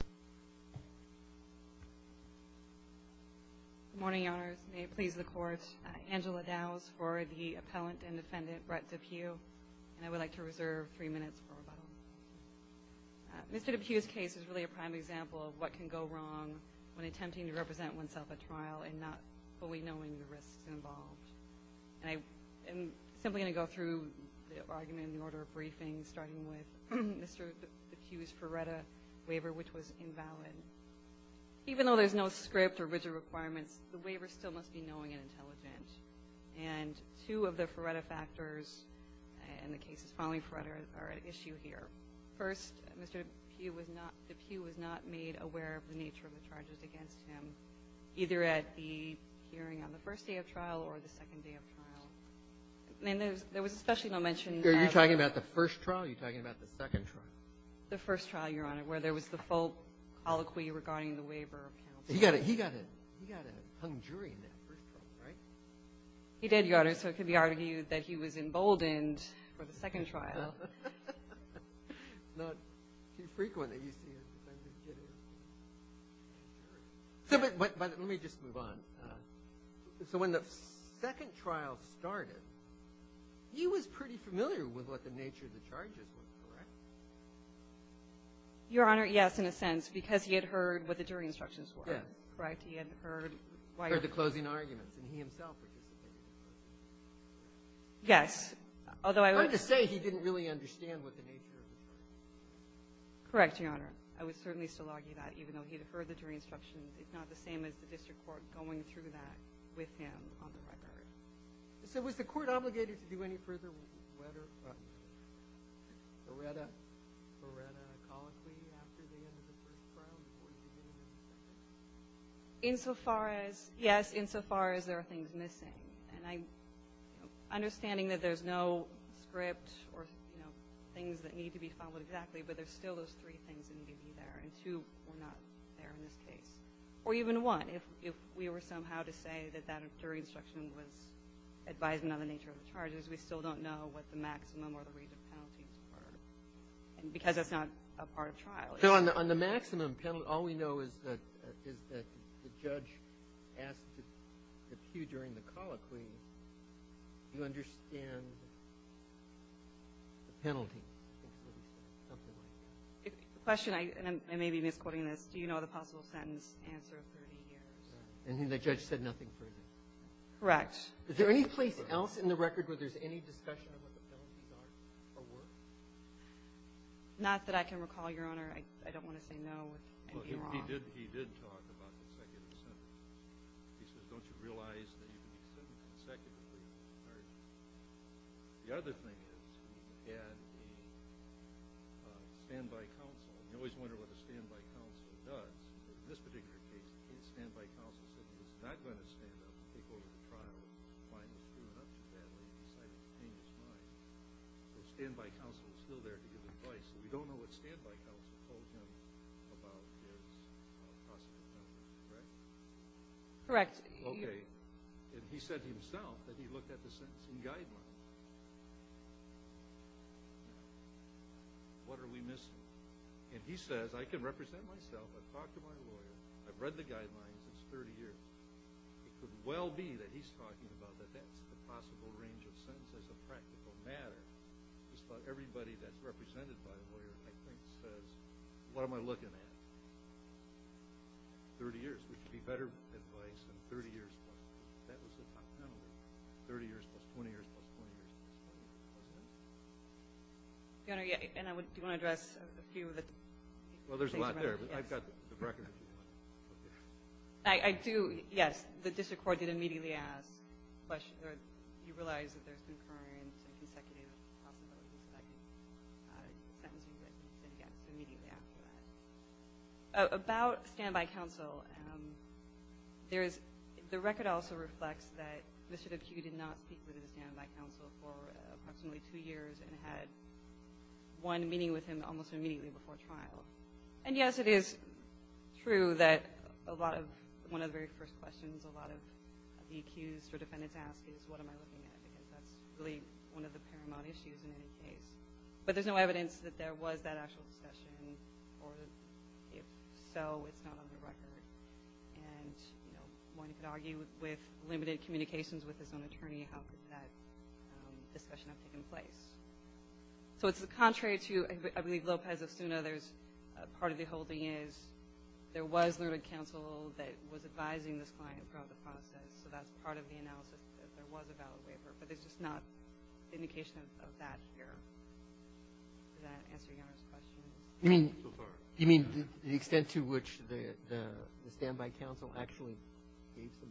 Good morning, Your Honors. May it please the Court, Angela Dows for the Appellant and Defendant Brett Depue, and I would like to reserve three minutes for rebuttal. Mr. Depue's case is really a prime example of what can go wrong when attempting to represent oneself at trial and not fully knowing the risks involved. And I am simply going to go through the argument in the order of briefing, starting with Mr. Depue's Feretta waiver, which was invalid. Even though there's no script or rigid requirements, the waiver still must be knowing and intelligent. And two of the Feretta factors in the cases following Feretta are at issue here. First, Mr. Depue was not – Depue was not made aware of the nature of the charges against him, either at the hearing on the first day of trial or the second day of trial. And there was especially no mention of – Are you talking about the first trial, or are you talking about the second trial? The first trial, Your Honor, where there was the full colloquy regarding the waiver of counsel. He got a hung jury in that first trial, right? He did, Your Honor, so it could be argued that he was emboldened for the second trial. So when the second trial started, he was pretty familiar with what the nature of the charges were, correct? Your Honor, yes, in a sense, because he had heard what the jury instructions were. Yes. Right? He had heard why – Heard the closing arguments, and he himself participated in those. Yes. Although I would – I don't really understand what the nature of the charges were. Correct, Your Honor. I would certainly still argue that, even though he had heard the jury instructions. It's not the same as the district court going through that with him on the record. So was the court obligated to do any further letter – Moretta – Moretta colloquy after the end of the first trial before you could get into the second? Insofar as – yes, insofar as there are things missing. And I – understanding that there's no script or, you know, things that need to be followed exactly, but there's still those three things that need to be there, and two were not there in this case. Or even one. If we were somehow to say that that jury instruction was advising on the nature of the charges, we still don't know what the maximum or the range of penalties were, because that's not a part of trial. So on the – on the maximum penalty, all we know is that – is that the judge asked if you, during the colloquy, you understand the penalties, something like that. The question – and I may be misquoting this. Do you know the possible sentence answer of 30 years? And the judge said nothing further. Correct. Is there any place else in the record where there's any discussion on what the penalties are or were? Not that I can recall, Your Honor. I don't want to say no. I'd be wrong. Well, he did – he did talk about consecutive sentences. He says, don't you realize that you can be sentenced consecutively on charges? The other thing is he had a standby counsel. You always wonder what a standby counsel does. In this particular case, the standby counsel said he was not going to stand up and take over the trial. He was fine. He screwed it up too badly. He decided to change his mind. The standby counsel is still there to give advice. We don't know what standby counsel told him about his possible penalties, correct? Correct. Okay. And he said to himself that he looked at the sentencing guidelines. What are we missing? And he says, I can represent myself. I've talked to my lawyer. I've read the guidelines. It's 30 years. It could well be that he's talking about that that's a possible range of sentences of practical matter. Just about everybody that's represented by a lawyer, I think, says, what am I looking at? 30 years. We could be better with advice than 30 years. That was the top penalty, 30 years plus 20 years plus 20 years. And I would – do you want to address a few of the things? Well, there's a lot there, but I've got the record. I do. Yes. The district court did immediately ask a question. He realized that there's concurrent and consecutive possibilities that I could sentence him, but he said yes immediately after that. About standby counsel, there is – the record also reflects that Mr. DePuy did not speak with his standby counsel for approximately two years and had one meeting with him almost immediately before trial. And, yes, it is true that a lot of – one of the very first questions a lot of VQs for defendants ask is, what am I looking at? Because that's really one of the paramount issues in any case. But there's no evidence that there was that actual discussion, or if so, it's not on the record. And, you know, one could argue with limited communications with his own attorney, how could that discussion have taken place? So it's contrary to, I believe, Lopez-Ostuna. There's – part of the holding is there was limited counsel that was advising this client throughout the process. So that's part of the analysis, that there was a valid waiver. But there's just not indication of that here. Does that answer Your Honor's question? I'm so sorry. You mean the extent to which the standby counsel actually gave some assistance?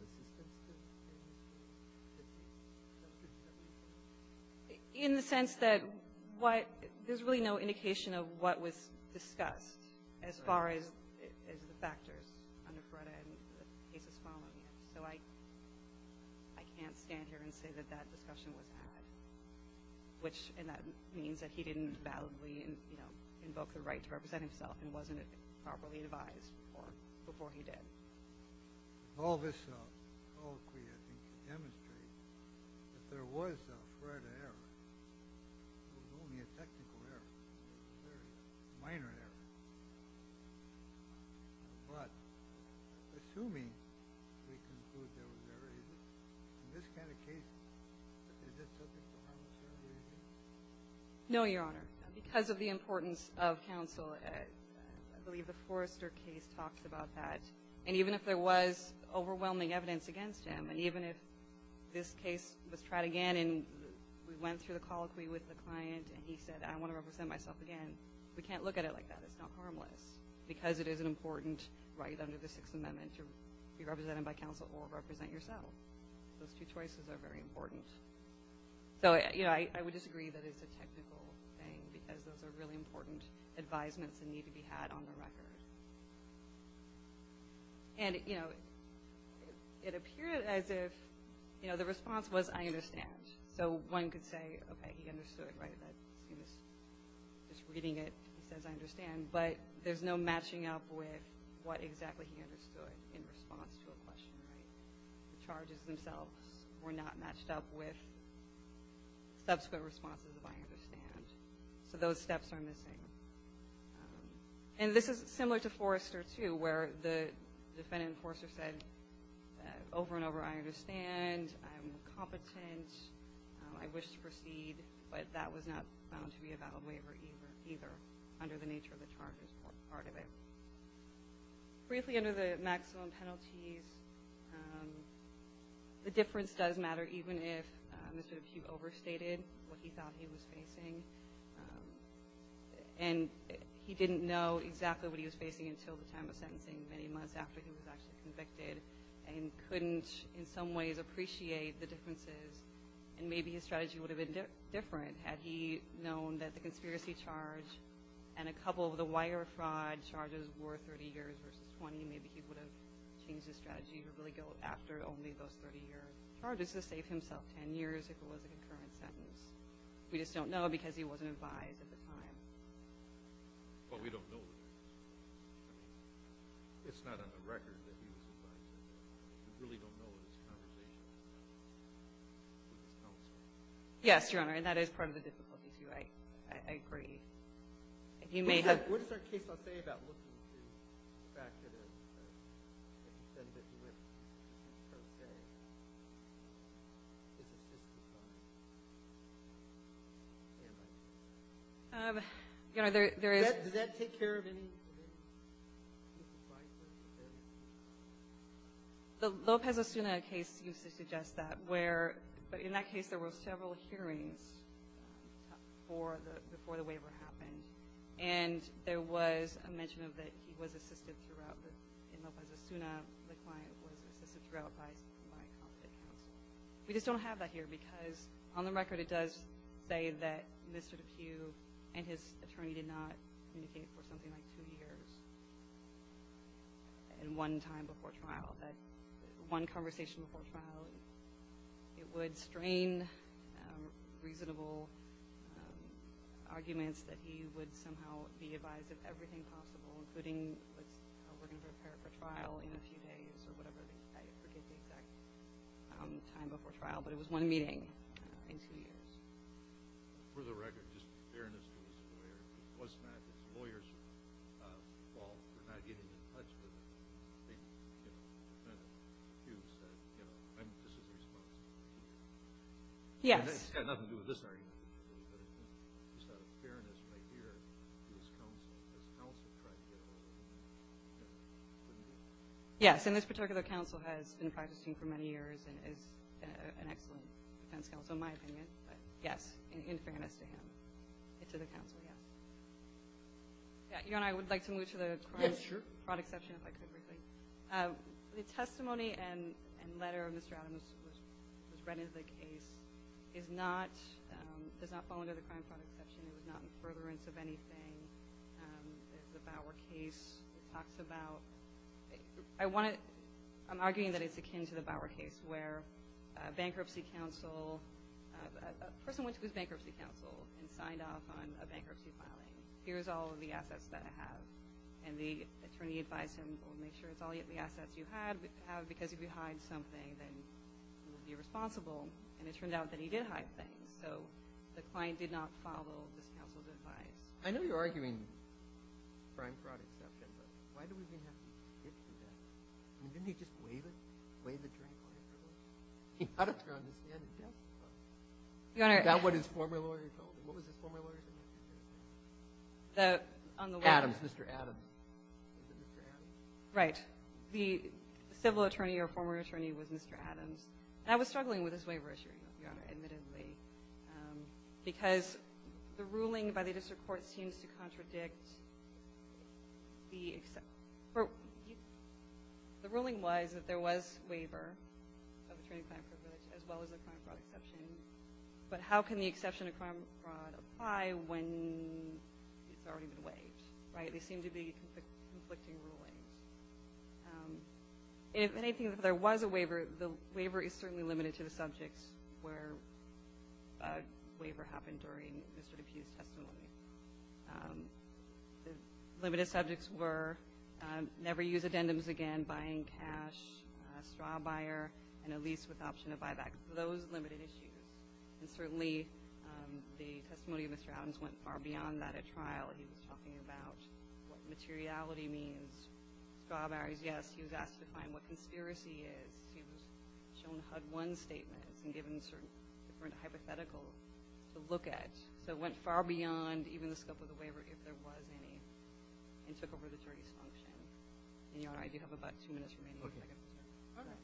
In the sense that what – there's really no indication of what was discussed as far as the factors under FRERDA and the cases following it. So I can't stand here and say that that discussion was had, which – and that means that he didn't validly, you know, invoke the right to represent himself and wasn't properly advised before he did. All this colloquy, I think, demonstrates that there was a FRERDA error. It was only a technical error. It was a very minor error. But assuming we conclude there was error in this kind of case, is it subject to harm of service? No, Your Honor. Because of the importance of counsel, I believe the Forrester case talks about that. And even if there was overwhelming evidence against him, and even if this case was tried again and we went through the colloquy with the client and he said, I want to represent myself again, we can't look at it like that. It's not harmless. Because it is an important right under the Sixth Amendment to be represented by counsel or represent yourself. Those two choices are very important. So, you know, I would disagree that it's a technical thing, because those are really important advisements that need to be had on the record. And, you know, it appeared as if, you know, the response was, I understand. So one could say, okay, he understood, right, that he was just reading it. He says, I understand. But there's no matching up with what exactly he understood in response to a question, right? The charges themselves were not matched up with subsequent responses of I understand. So those steps are missing. And this is similar to Forrester, too, where the defendant enforcer said over and over, I understand. I'm competent. I wish to proceed. But that was not found to be a valid waiver either under the nature of the charges part of it. Briefly, under the maximum penalties, the difference does matter, even if Mr. DePute overstated what he thought he was facing. And he didn't know exactly what he was facing until the time of sentencing, many months after he was actually convicted, and couldn't in some ways appreciate the differences. And maybe his strategy would have been different had he known that the conspiracy charge and a couple of the wire fraud charges were 30 years versus 20. Maybe he would have changed his strategy to really go after only those 30 years. Charges to save himself 10 years if it was a concurrent sentence. We just don't know because he wasn't advised at the time. Well, we don't know. It's not on the record that he was advised. We really don't know. It's a conversation. Yes, Your Honor, and that is part of the difficulty, too. I agree. If you may have ---- What does our case law say about looking through the fact that a defendant who went pro se is assisted by an ambush? Your Honor, there is ---- Does that take care of any ---- The Lopez Osuna case used to suggest that, where in that case there were several hearings before the waiver happened, and there was a mention of that he was assisted throughout. In Lopez Osuna, the client was assisted throughout by a competent counsel. We just don't have that here because, on the record, it does say that Mr. DePue and his attorney did not communicate for something like two years and one time before trial, that one conversation before trial. It would strain reasonable arguments that he would somehow be advised of everything possible, including how we're going to prepare for trial in a few days or whatever. I forget the exact time before trial, but it was one meeting in two years. For the record, just fairness to the lawyer, it was not the lawyer's fault for not getting in touch with him. I think that DePue said, you know, this is the response. Yes. It had nothing to do with this argument. It was just out of fairness right here to his counsel. His counsel tried to get a hold of him. Yes, and this particular counsel has been practicing for many years and is an excellent defense counsel, in my opinion. But, yes, in fairness to him and to the counsel, yes. Your Honor, I would like to move to the crime exception, if I could. The testimony and letter of Mr. Adams was read into the case. It does not fall under the crime product exception. It was not in furtherance of anything. There's a Bower case that talks about – I'm arguing that it's akin to the Bower case where a person went to his bankruptcy counsel and signed off on a bankruptcy filing. Here's all of the assets that I have. And the attorney advised him, well, make sure it's all the assets you have because if you hide something, then you'll be responsible. And it turned out that he did hide things. So the client did not follow this counsel's advice. I know you're arguing crime product exception, but why do we even have to get to that? Didn't he just wave it, wave the drink on the girl? He had her on his desk. That's what his former lawyer told him. What was his former lawyer's name? Adams, Mr. Adams. Right. The civil attorney or former attorney was Mr. Adams. And I was struggling with his waiver issue, Your Honor, admittedly, because the ruling by the district court seems to contradict the – the ruling was that there was waiver of attorney-client privilege as well as a crime product exception. But how can the exception of crime product apply when it's already been waived, right? They seem to be conflicting rulings. If anything, if there was a waiver, the waiver is certainly limited to the subjects where a waiver happened during Mr. DePue's testimony. The limited subjects were never use addendums again, buying cash, straw buyer, and a lease with option of buyback, those limited issues. And certainly the testimony of Mr. Adams went far beyond that at trial. He was talking about what materiality means. Strawberries, yes. He was asked to find what conspiracy is. He was shown HUD-1 statements and given certain different hypotheticals to look at. So it went far beyond even the scope of the waiver if there was any and took over the jury's function. And, Your Honor, I do have about two minutes remaining. Okay. All right.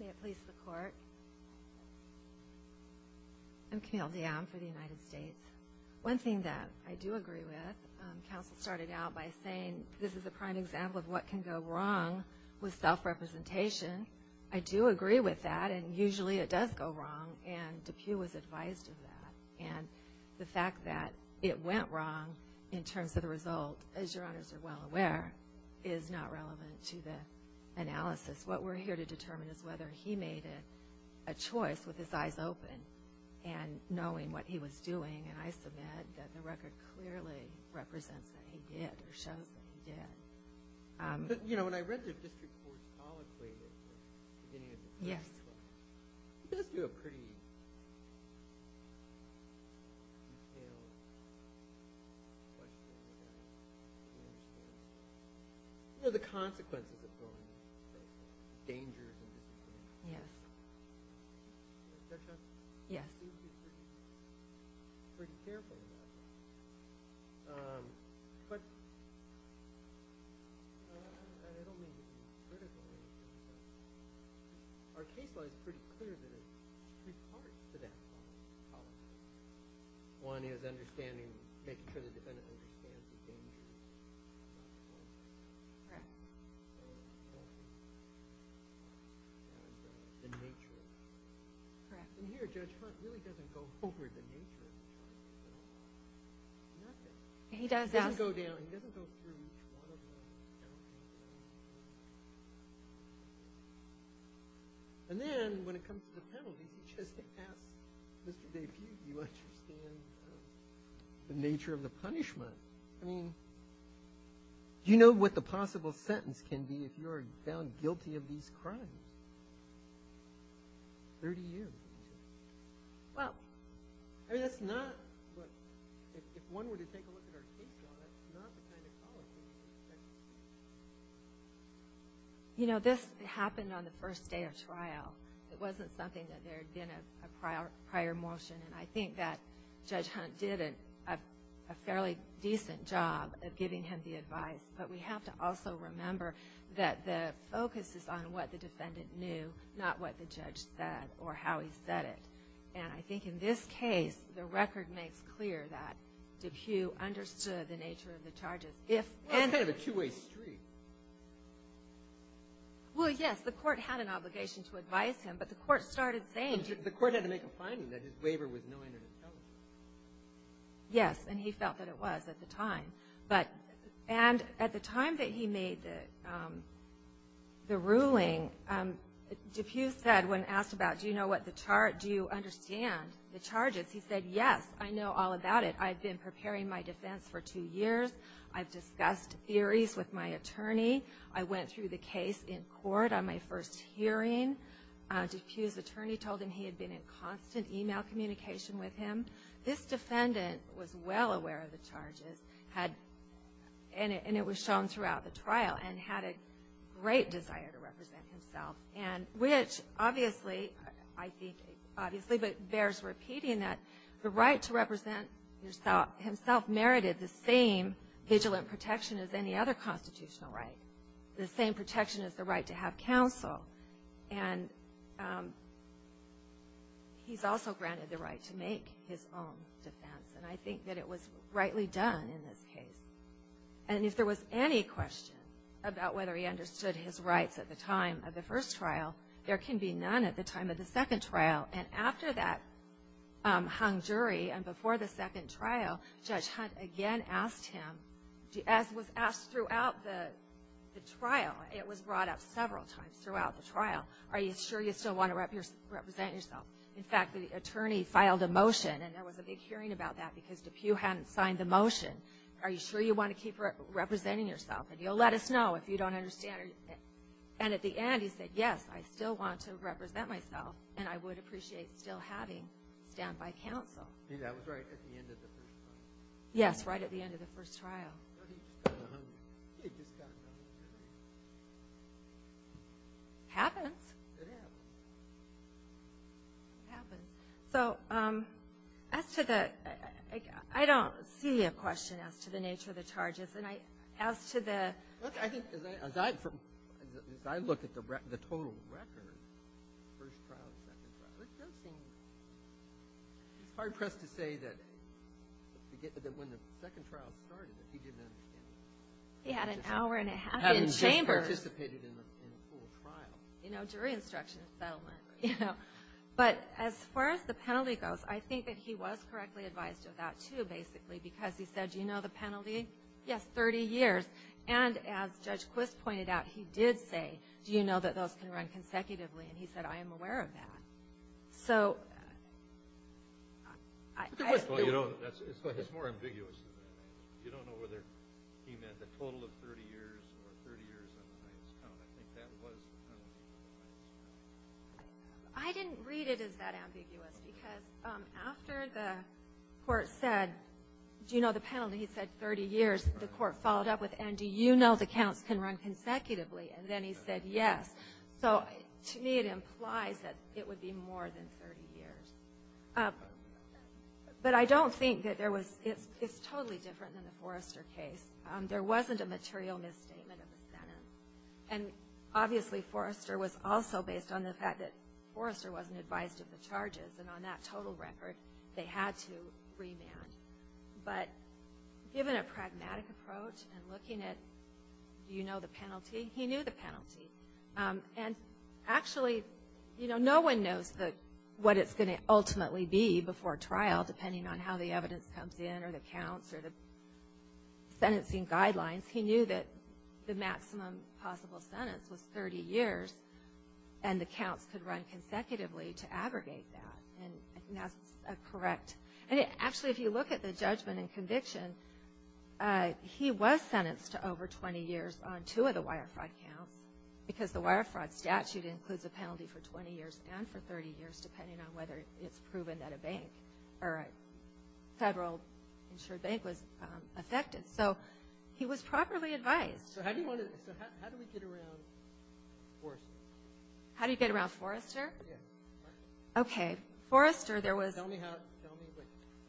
May it please the Court. I'm Camille Dionne for the United States. One thing that I do agree with, counsel started out by saying this is a prime example of what can go wrong with self-representation. I do agree with that, and usually it does go wrong. And DePue was advised of that. And the fact that it went wrong in terms of the result, as Your Honors are well aware, is not relevant to the analysis. What we're here to determine is whether he made a choice with his eyes open and knowing what he was doing. And I submit that the record clearly represents that he did or shows that he did. You know, when I read the district court's colloquy at the beginning of the first one, it does do a pretty detailed question. You know, the consequences of going dangerous in this case. Yes. Judge Johnson? Yes. You seem to be pretty careful in that. But I don't mean to be critical. Our case law is pretty clear that it reports to that colloquy. One is understanding, making sure the defendant understands the danger. Correct. The nature of it. Correct. And here Judge Hunt really doesn't go over the nature of the charges at all. He does, yes. He doesn't go down, he doesn't go through one of them. And then when it comes to the penalties, he just asks Mr. DePue, do you understand the nature of the punishment? I mean, do you know what the possible sentence can be if you're found guilty of these crimes? Thirty years. Well. I mean, that's not what – if one were to take a look at our case law, that's not the kind of colloquy you would expect to see. You know, this happened on the first day of trial. It wasn't something that there had been a prior motion, and I think that Judge Hunt did a fairly decent job of giving him the advice. But we have to also remember that the focus is on what the defendant knew, not what the judge said or how he said it. And I think in this case, the record makes clear that DePue understood the nature of the charges. Well, it's kind of a two-way street. Well, yes, the Court had an obligation to advise him, but the Court started saying The Court had to make a finding that his waiver was knowing and intelligent. Yes, and he felt that it was at the time. And at the time that he made the ruling, DePue said, when asked about, Do you know what the charge – do you understand the charges? He said, Yes, I know all about it. I've been preparing my defense for two years. I've discussed theories with my attorney. I went through the case in court on my first hearing. DePue's attorney told him he had been in constant email communication with him. This defendant was well aware of the charges and it was shown throughout the trial and had a great desire to represent himself, which obviously, I think, obviously bears repeating that the right to represent himself merited the same vigilant protection as any other constitutional right, the same protection as the right to have counsel. And he's also granted the right to make his own defense. And I think that it was rightly done in this case. And if there was any question about whether he understood his rights at the time of the first trial, there can be none at the time of the second trial. And after that hung jury and before the second trial, Judge Hunt again asked him, as was asked throughout the trial, it was brought up several times throughout the trial, Are you sure you still want to represent yourself? In fact, the attorney filed a motion and there was a big hearing about that because DePue hadn't signed the motion. Are you sure you want to keep representing yourself? And you'll let us know if you don't understand. And at the end, he said, Yes, I still want to represent myself and I would appreciate still having standby counsel. Maybe that was right at the end of the first trial. Yes, right at the end of the first trial. No, he just got hung. He just got hung. Happens. It happens. It happens. So as to the – I don't see a question as to the nature of the charges. And as to the – Look, I think as I – as I look at the total record, first trial, second trial, it's hard pressed to say that when the second trial started that he didn't understand. He had an hour and a half in chambers. Having just participated in a full trial. You know, jury instruction settlement, you know. But as far as the penalty goes, I think that he was correctly advised of that, too, basically, because he said, Do you know the penalty? Yes, 30 years. And as Judge Quist pointed out, he did say, Do you know that those can run consecutively? And he said, I am aware of that. So – Well, you know, it's more ambiguous than that. You don't know whether he meant the total of 30 years or 30 years on the highest count. I think that was the penalty on the highest count. I didn't read it as that ambiguous because after the court said, Do you know the penalty? He said 30 years. The court followed up with, And do you know the counts can run consecutively? And then he said, Yes. So to me, it implies that it would be more than 30 years. But I don't think that there was – it's totally different than the Forrester case. There wasn't a material misstatement of the sentence. And obviously, Forrester was also based on the fact that Forrester wasn't advised of the charges, and on that total record, they had to remand. But given a pragmatic approach and looking at, Do you know the penalty? He knew the penalty. And actually, you know, no one knows what it's going to ultimately be before trial, depending on how the evidence comes in or the counts or the sentencing guidelines. He knew that the maximum possible sentence was 30 years, and the counts could run consecutively to aggregate that. And I think that's correct. And actually, if you look at the judgment and conviction, he was sentenced to over 20 years on two of the wire fraud counts, because the wire fraud statute includes a penalty for 20 years and for 30 years, depending on whether it's proven that a bank or a federal insured bank was affected. So he was properly advised. So how do you want to – so how do we get around Forrester? How do you get around Forrester? Yeah. Okay. Forrester, there was – Tell me how – tell me.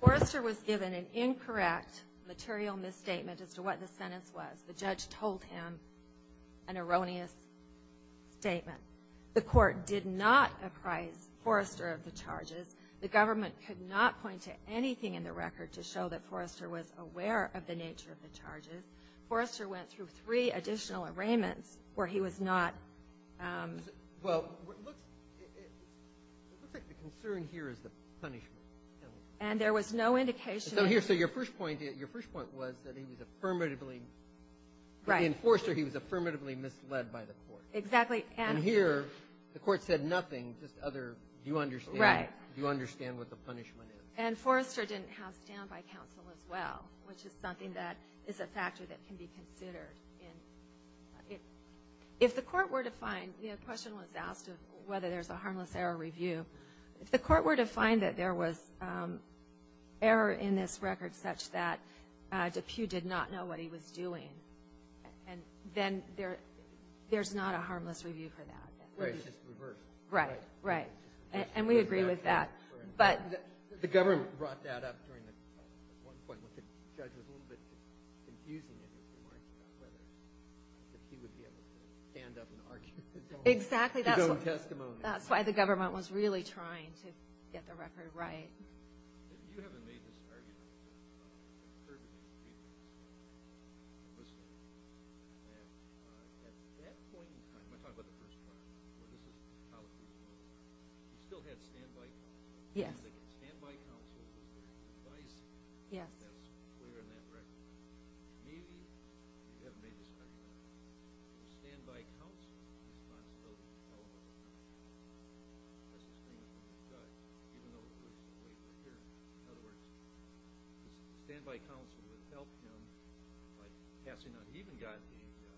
Forrester was given an incorrect material misstatement as to what the sentence was. The judge told him an erroneous statement. The Court did not apprise Forrester of the charges. The government could not point to anything in the record to show that Forrester was aware of the nature of the charges. Forrester went through three additional arraignments where he was not – Well, it looks like the concern here is the punishment. And there was no indication – So here – so your first point – your first point was that he was affirmatively Right. In Forrester, he was affirmatively misled by the Court. Exactly. And – And here, the Court said nothing, just other, do you understand – Right. Do you understand what the punishment is? And Forrester didn't have stand-by counsel as well, which is something that is a factor that can be considered in – if the Court were to find – the question was asked of whether there's a harmless error review. If the Court were to find that there was error in this record such that DePue did not know what he was doing, and then there's not a harmless review for that. Right. It's just reversed. Right. Right. And we agree with that. But – The government brought that up during the – at one point when the judge was a little bit confusing in his remarks about whether DePue would be able to stand up and argue Exactly. That's why the government was really trying to get the record right. Yes. Yes. Yes. We're in that record. Maybe, if you haven't made this clear, the stand-by counsel is not still relevant. That's just being a judge, even though the person's way over here. In other words, the stand-by counsel would help him by passing on – he even got a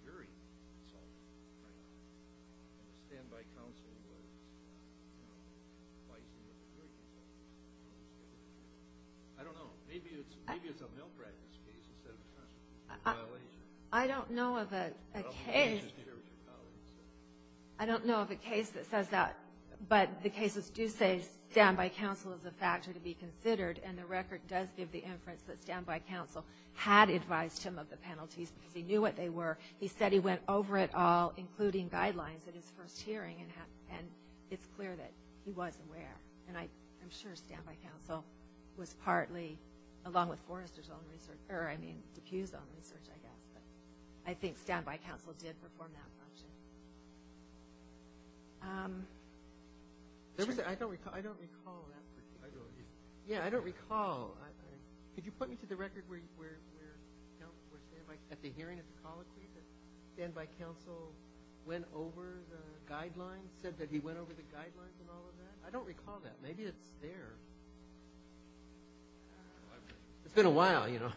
jury consulted. Right. And the stand-by counsel was not now advising the jury consultant. I don't know. Maybe it's a malpractice case instead of a violation. I don't know of a case – Well, you just hear what your colleagues say. I don't know of a case that says that. But the cases do say stand-by counsel is a factor to be considered, and the record does give the inference that stand-by counsel had advised him of the penalties because he knew what they were. He said he went over it all, including guidelines, at his first hearing, and it's clear that he was aware. And I'm sure stand-by counsel was partly, along with Forrester's own research – or, I mean, Dufus's own research, I guess. But I think stand-by counsel did perform that function. I don't recall that particular case. I don't either. Yeah, I don't recall. Could you put me to the record where stand-by – at the hearing, if you'll call it, please, that stand-by counsel went over the guidelines, said that he went over the guidelines and all of that? I don't recall that. Maybe it's there. It's been a while, you know.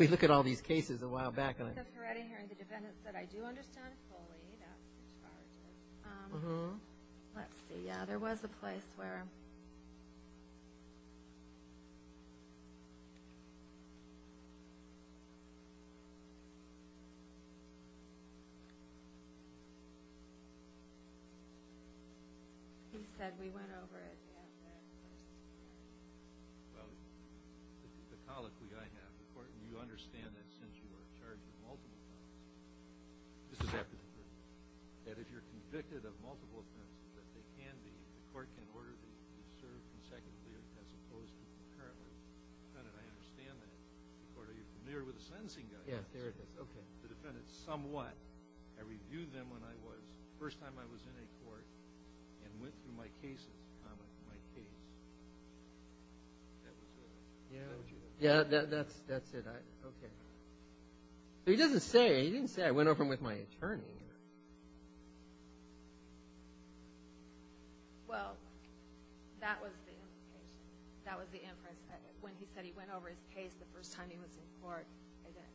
We look at all these cases a while back. Except for at a hearing, the defendant said, I do understand fully. That's as far as I – let's see. Yeah, there was a place where – He said we went over it after the first hearing. Well, the colloquy I have, the court – and you understand that since you are charged with multiple offenses. This is after the first hearing. That if you're convicted of multiple offenses, that they can be – the court can order that you be served consecutively or as opposed to currently. I don't recall. I don't recall. I don't recall. I don't recall. I don't recall. I don't understand that. Are you familiar with the sentencing guidelines? Yes, there it is. Okay. The defendant somewhat – I reviewed them when I was – the first time I was in a court and went through my cases – my case. That was it. Yeah, that's it. Okay. He doesn't say – he didn't say I went over them with my attorney. Well, that was the implication. When he said he went over his case the first time he was in court,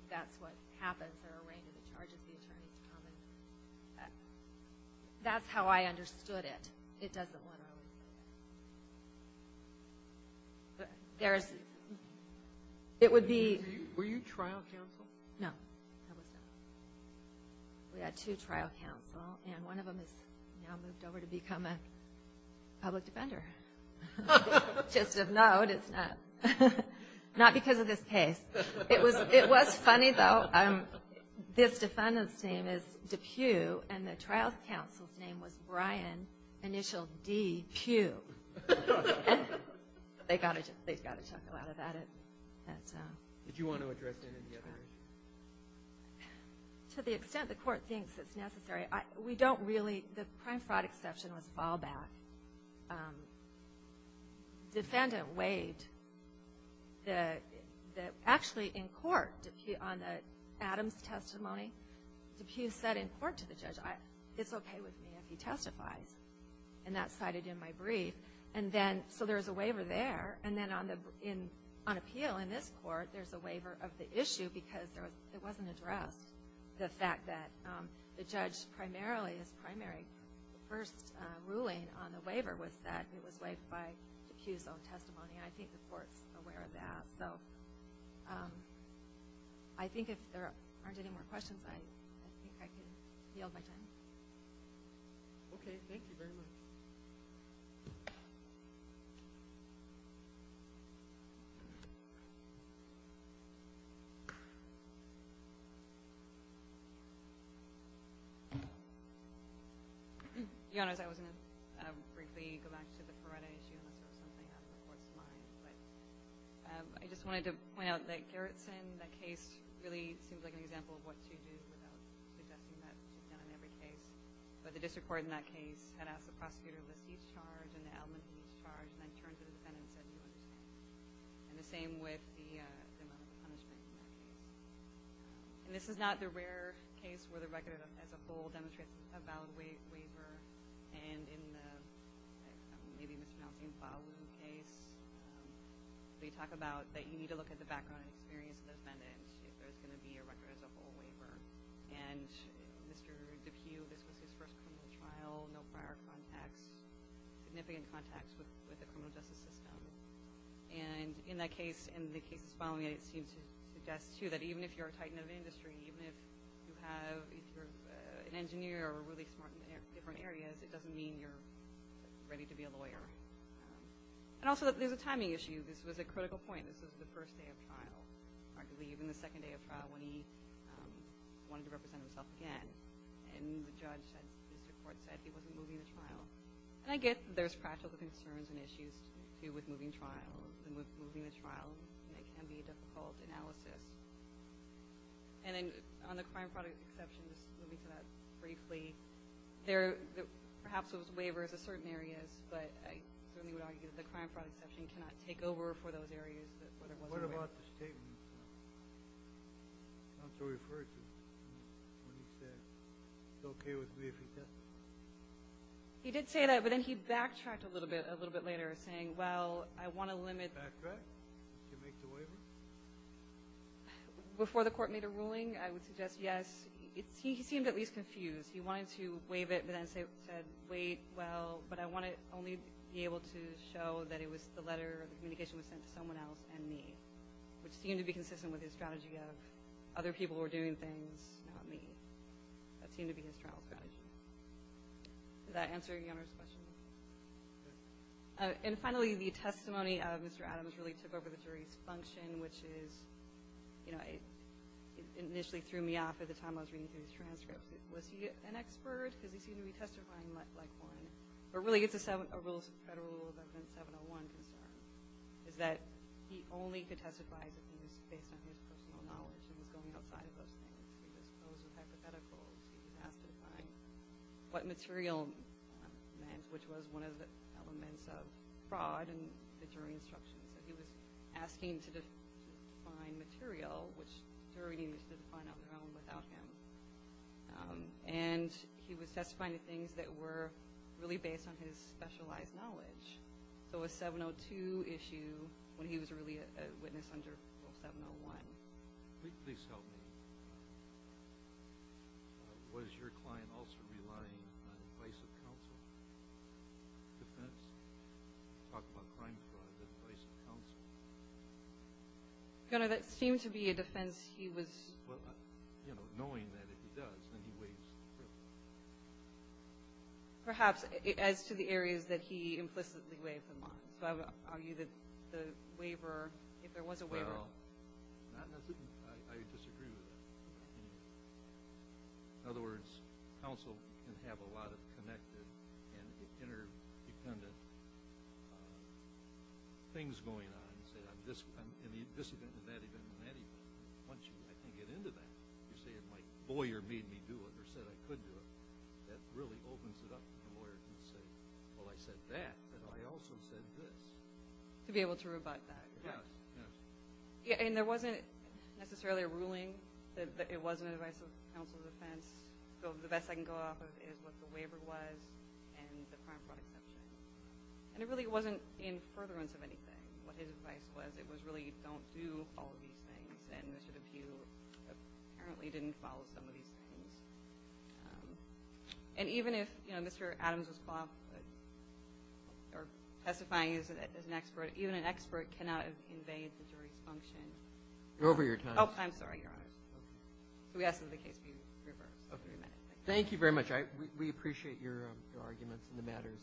that's what happens. There are a range of charges the attorneys come and – that's how I understood it. It doesn't want to always say that. There's – it would be – Were you trial counsel? No, I was not. We had two trial counsel, and one of them has now moved over to become a public defender. Just a note, it's not – not because of this case. It was – it was funny, though. This defendant's name is DePue, and the trial counsel's name was Brian, initial D, Pue. They got a – they got a chuckle out of that. Did you want to address any of the other issues? To the extent the court thinks it's necessary, we don't really – the prime fraud exception was fallback. The defendant waived the – actually, in court, on Adam's testimony, DePue said in court to the judge, it's okay with me if he testifies. And that's cited in my brief. And then – so there's a waiver there. And then on the – on appeal in this court, there's a waiver of the issue because it wasn't addressed, the fact that the judge primarily – his primary first ruling on the waiver was that it was waived by DePue's own testimony. And I think the court's aware of that. So I think if there aren't any more questions, I think I can yield my time. Okay. Thank you very much. Your Honors, I was going to briefly go back to the Paretta issue, unless there was something else the Court's mind. But I just wanted to point out that Gerritsen, that case, really seems like an example of what she did without suggesting that she's done it in every case. But the district court in that case had asked the prosecutor, let's use charge and the element of each charge, and then turned to the defendant and said, do you understand? And the same with the amount of punishment in that case. And this is not the rare case where the record as a whole demonstrates a valid waiver. And in the, I'm maybe mispronouncing, Fawu case, they talk about that you need to look at the background and experience of the defendant if there's going to be a record as a whole waiver. And Mr. DePue, this was his first criminal trial, no prior contacts, significant contacts with the criminal justice system. And in that case, in the cases following it, it seems to suggest, too, that even if you're a titan of industry, even if you have, if you're an engineer or really smart in different areas, it doesn't mean you're ready to be a lawyer. And also, there's a timing issue. This was a critical point. This was the first day of trial, I believe, and the second day of trial when he wanted to represent himself again. And the judge at the district court said he wasn't moving the trial. And I get that there's practical concerns and issues, too, with moving trial. And with moving the trial, it can be a difficult analysis. And then on the crime fraud exception, just moving to that briefly, perhaps it was waivers of certain areas, but I certainly would argue that the crime fraud exception cannot take over for those areas. What about the statement? Counsel referred to it when he said, Is it okay with me if he testified? He did say that, but then he backtracked a little bit later, saying, Well, I want to limit. Backtrack? Did you make the waiver? Before the court made a ruling, I would suggest yes. He seemed at least confused. He wanted to waive it, but then said, Wait, well, but I want to only be able to show that it was the letter or the communication was sent to someone else and me, which seemed to be consistent with his strategy of, Other people were doing things, not me. That seemed to be his trial strategy. Does that answer Your Honor's question? And finally, the testimony of Mr. Adams really took over the jury's function, which is, you know, it initially threw me off at the time I was reading through his transcript. Was he an expert? Because he seemed to be testifying like one. But really, it's a rules of federal rule, is that he only could testify if it was based on his personal knowledge and was going outside of those things. He was posed with hypotheticals. He was asked to define what material meant, which was one of the elements of fraud in the jury instructions. He was asking to define material, which the jury needed to define on their own without him. And he was testifying to things that were really based on his specialized knowledge. So a 702 issue when he was really a witness under 701. Please help me. Was your client also relying on advice of counsel? Defense? Talk about crime fraud, advice of counsel. Your Honor, that seemed to be a defense he was – Well, you know, knowing that if he does, then he waives the privilege. Perhaps as to the areas that he implicitly waived them on. So I would argue that the waiver, if there was a waiver. Well, not necessarily. I disagree with that. In other words, counsel can have a lot of connected and interdependent things going on. You say, I'm this event and that event and that event. Once you get into that, you say, my lawyer made me do it or said I could do it. That really opens it up to the lawyer to say, well, I said that, but I also said this. To be able to rebut that. Yes, yes. And there wasn't necessarily a ruling. It wasn't an advice of counsel defense. The best I can go off of is what the waiver was and the crime fraud exception. And it really wasn't in furtherance of anything, what his advice was. It was really don't do all of these things. And Mr. DePue apparently didn't follow some of these things. And even if, you know, Mr. Adams was qualified or testifying as an expert, even an expert cannot invade the jury's function. Over your time. Oh, I'm sorry, Your Honor. Okay. So we ask that the case be reversed. Okay. Thank you very much. We appreciate your arguments and the matters submitted. Thank you.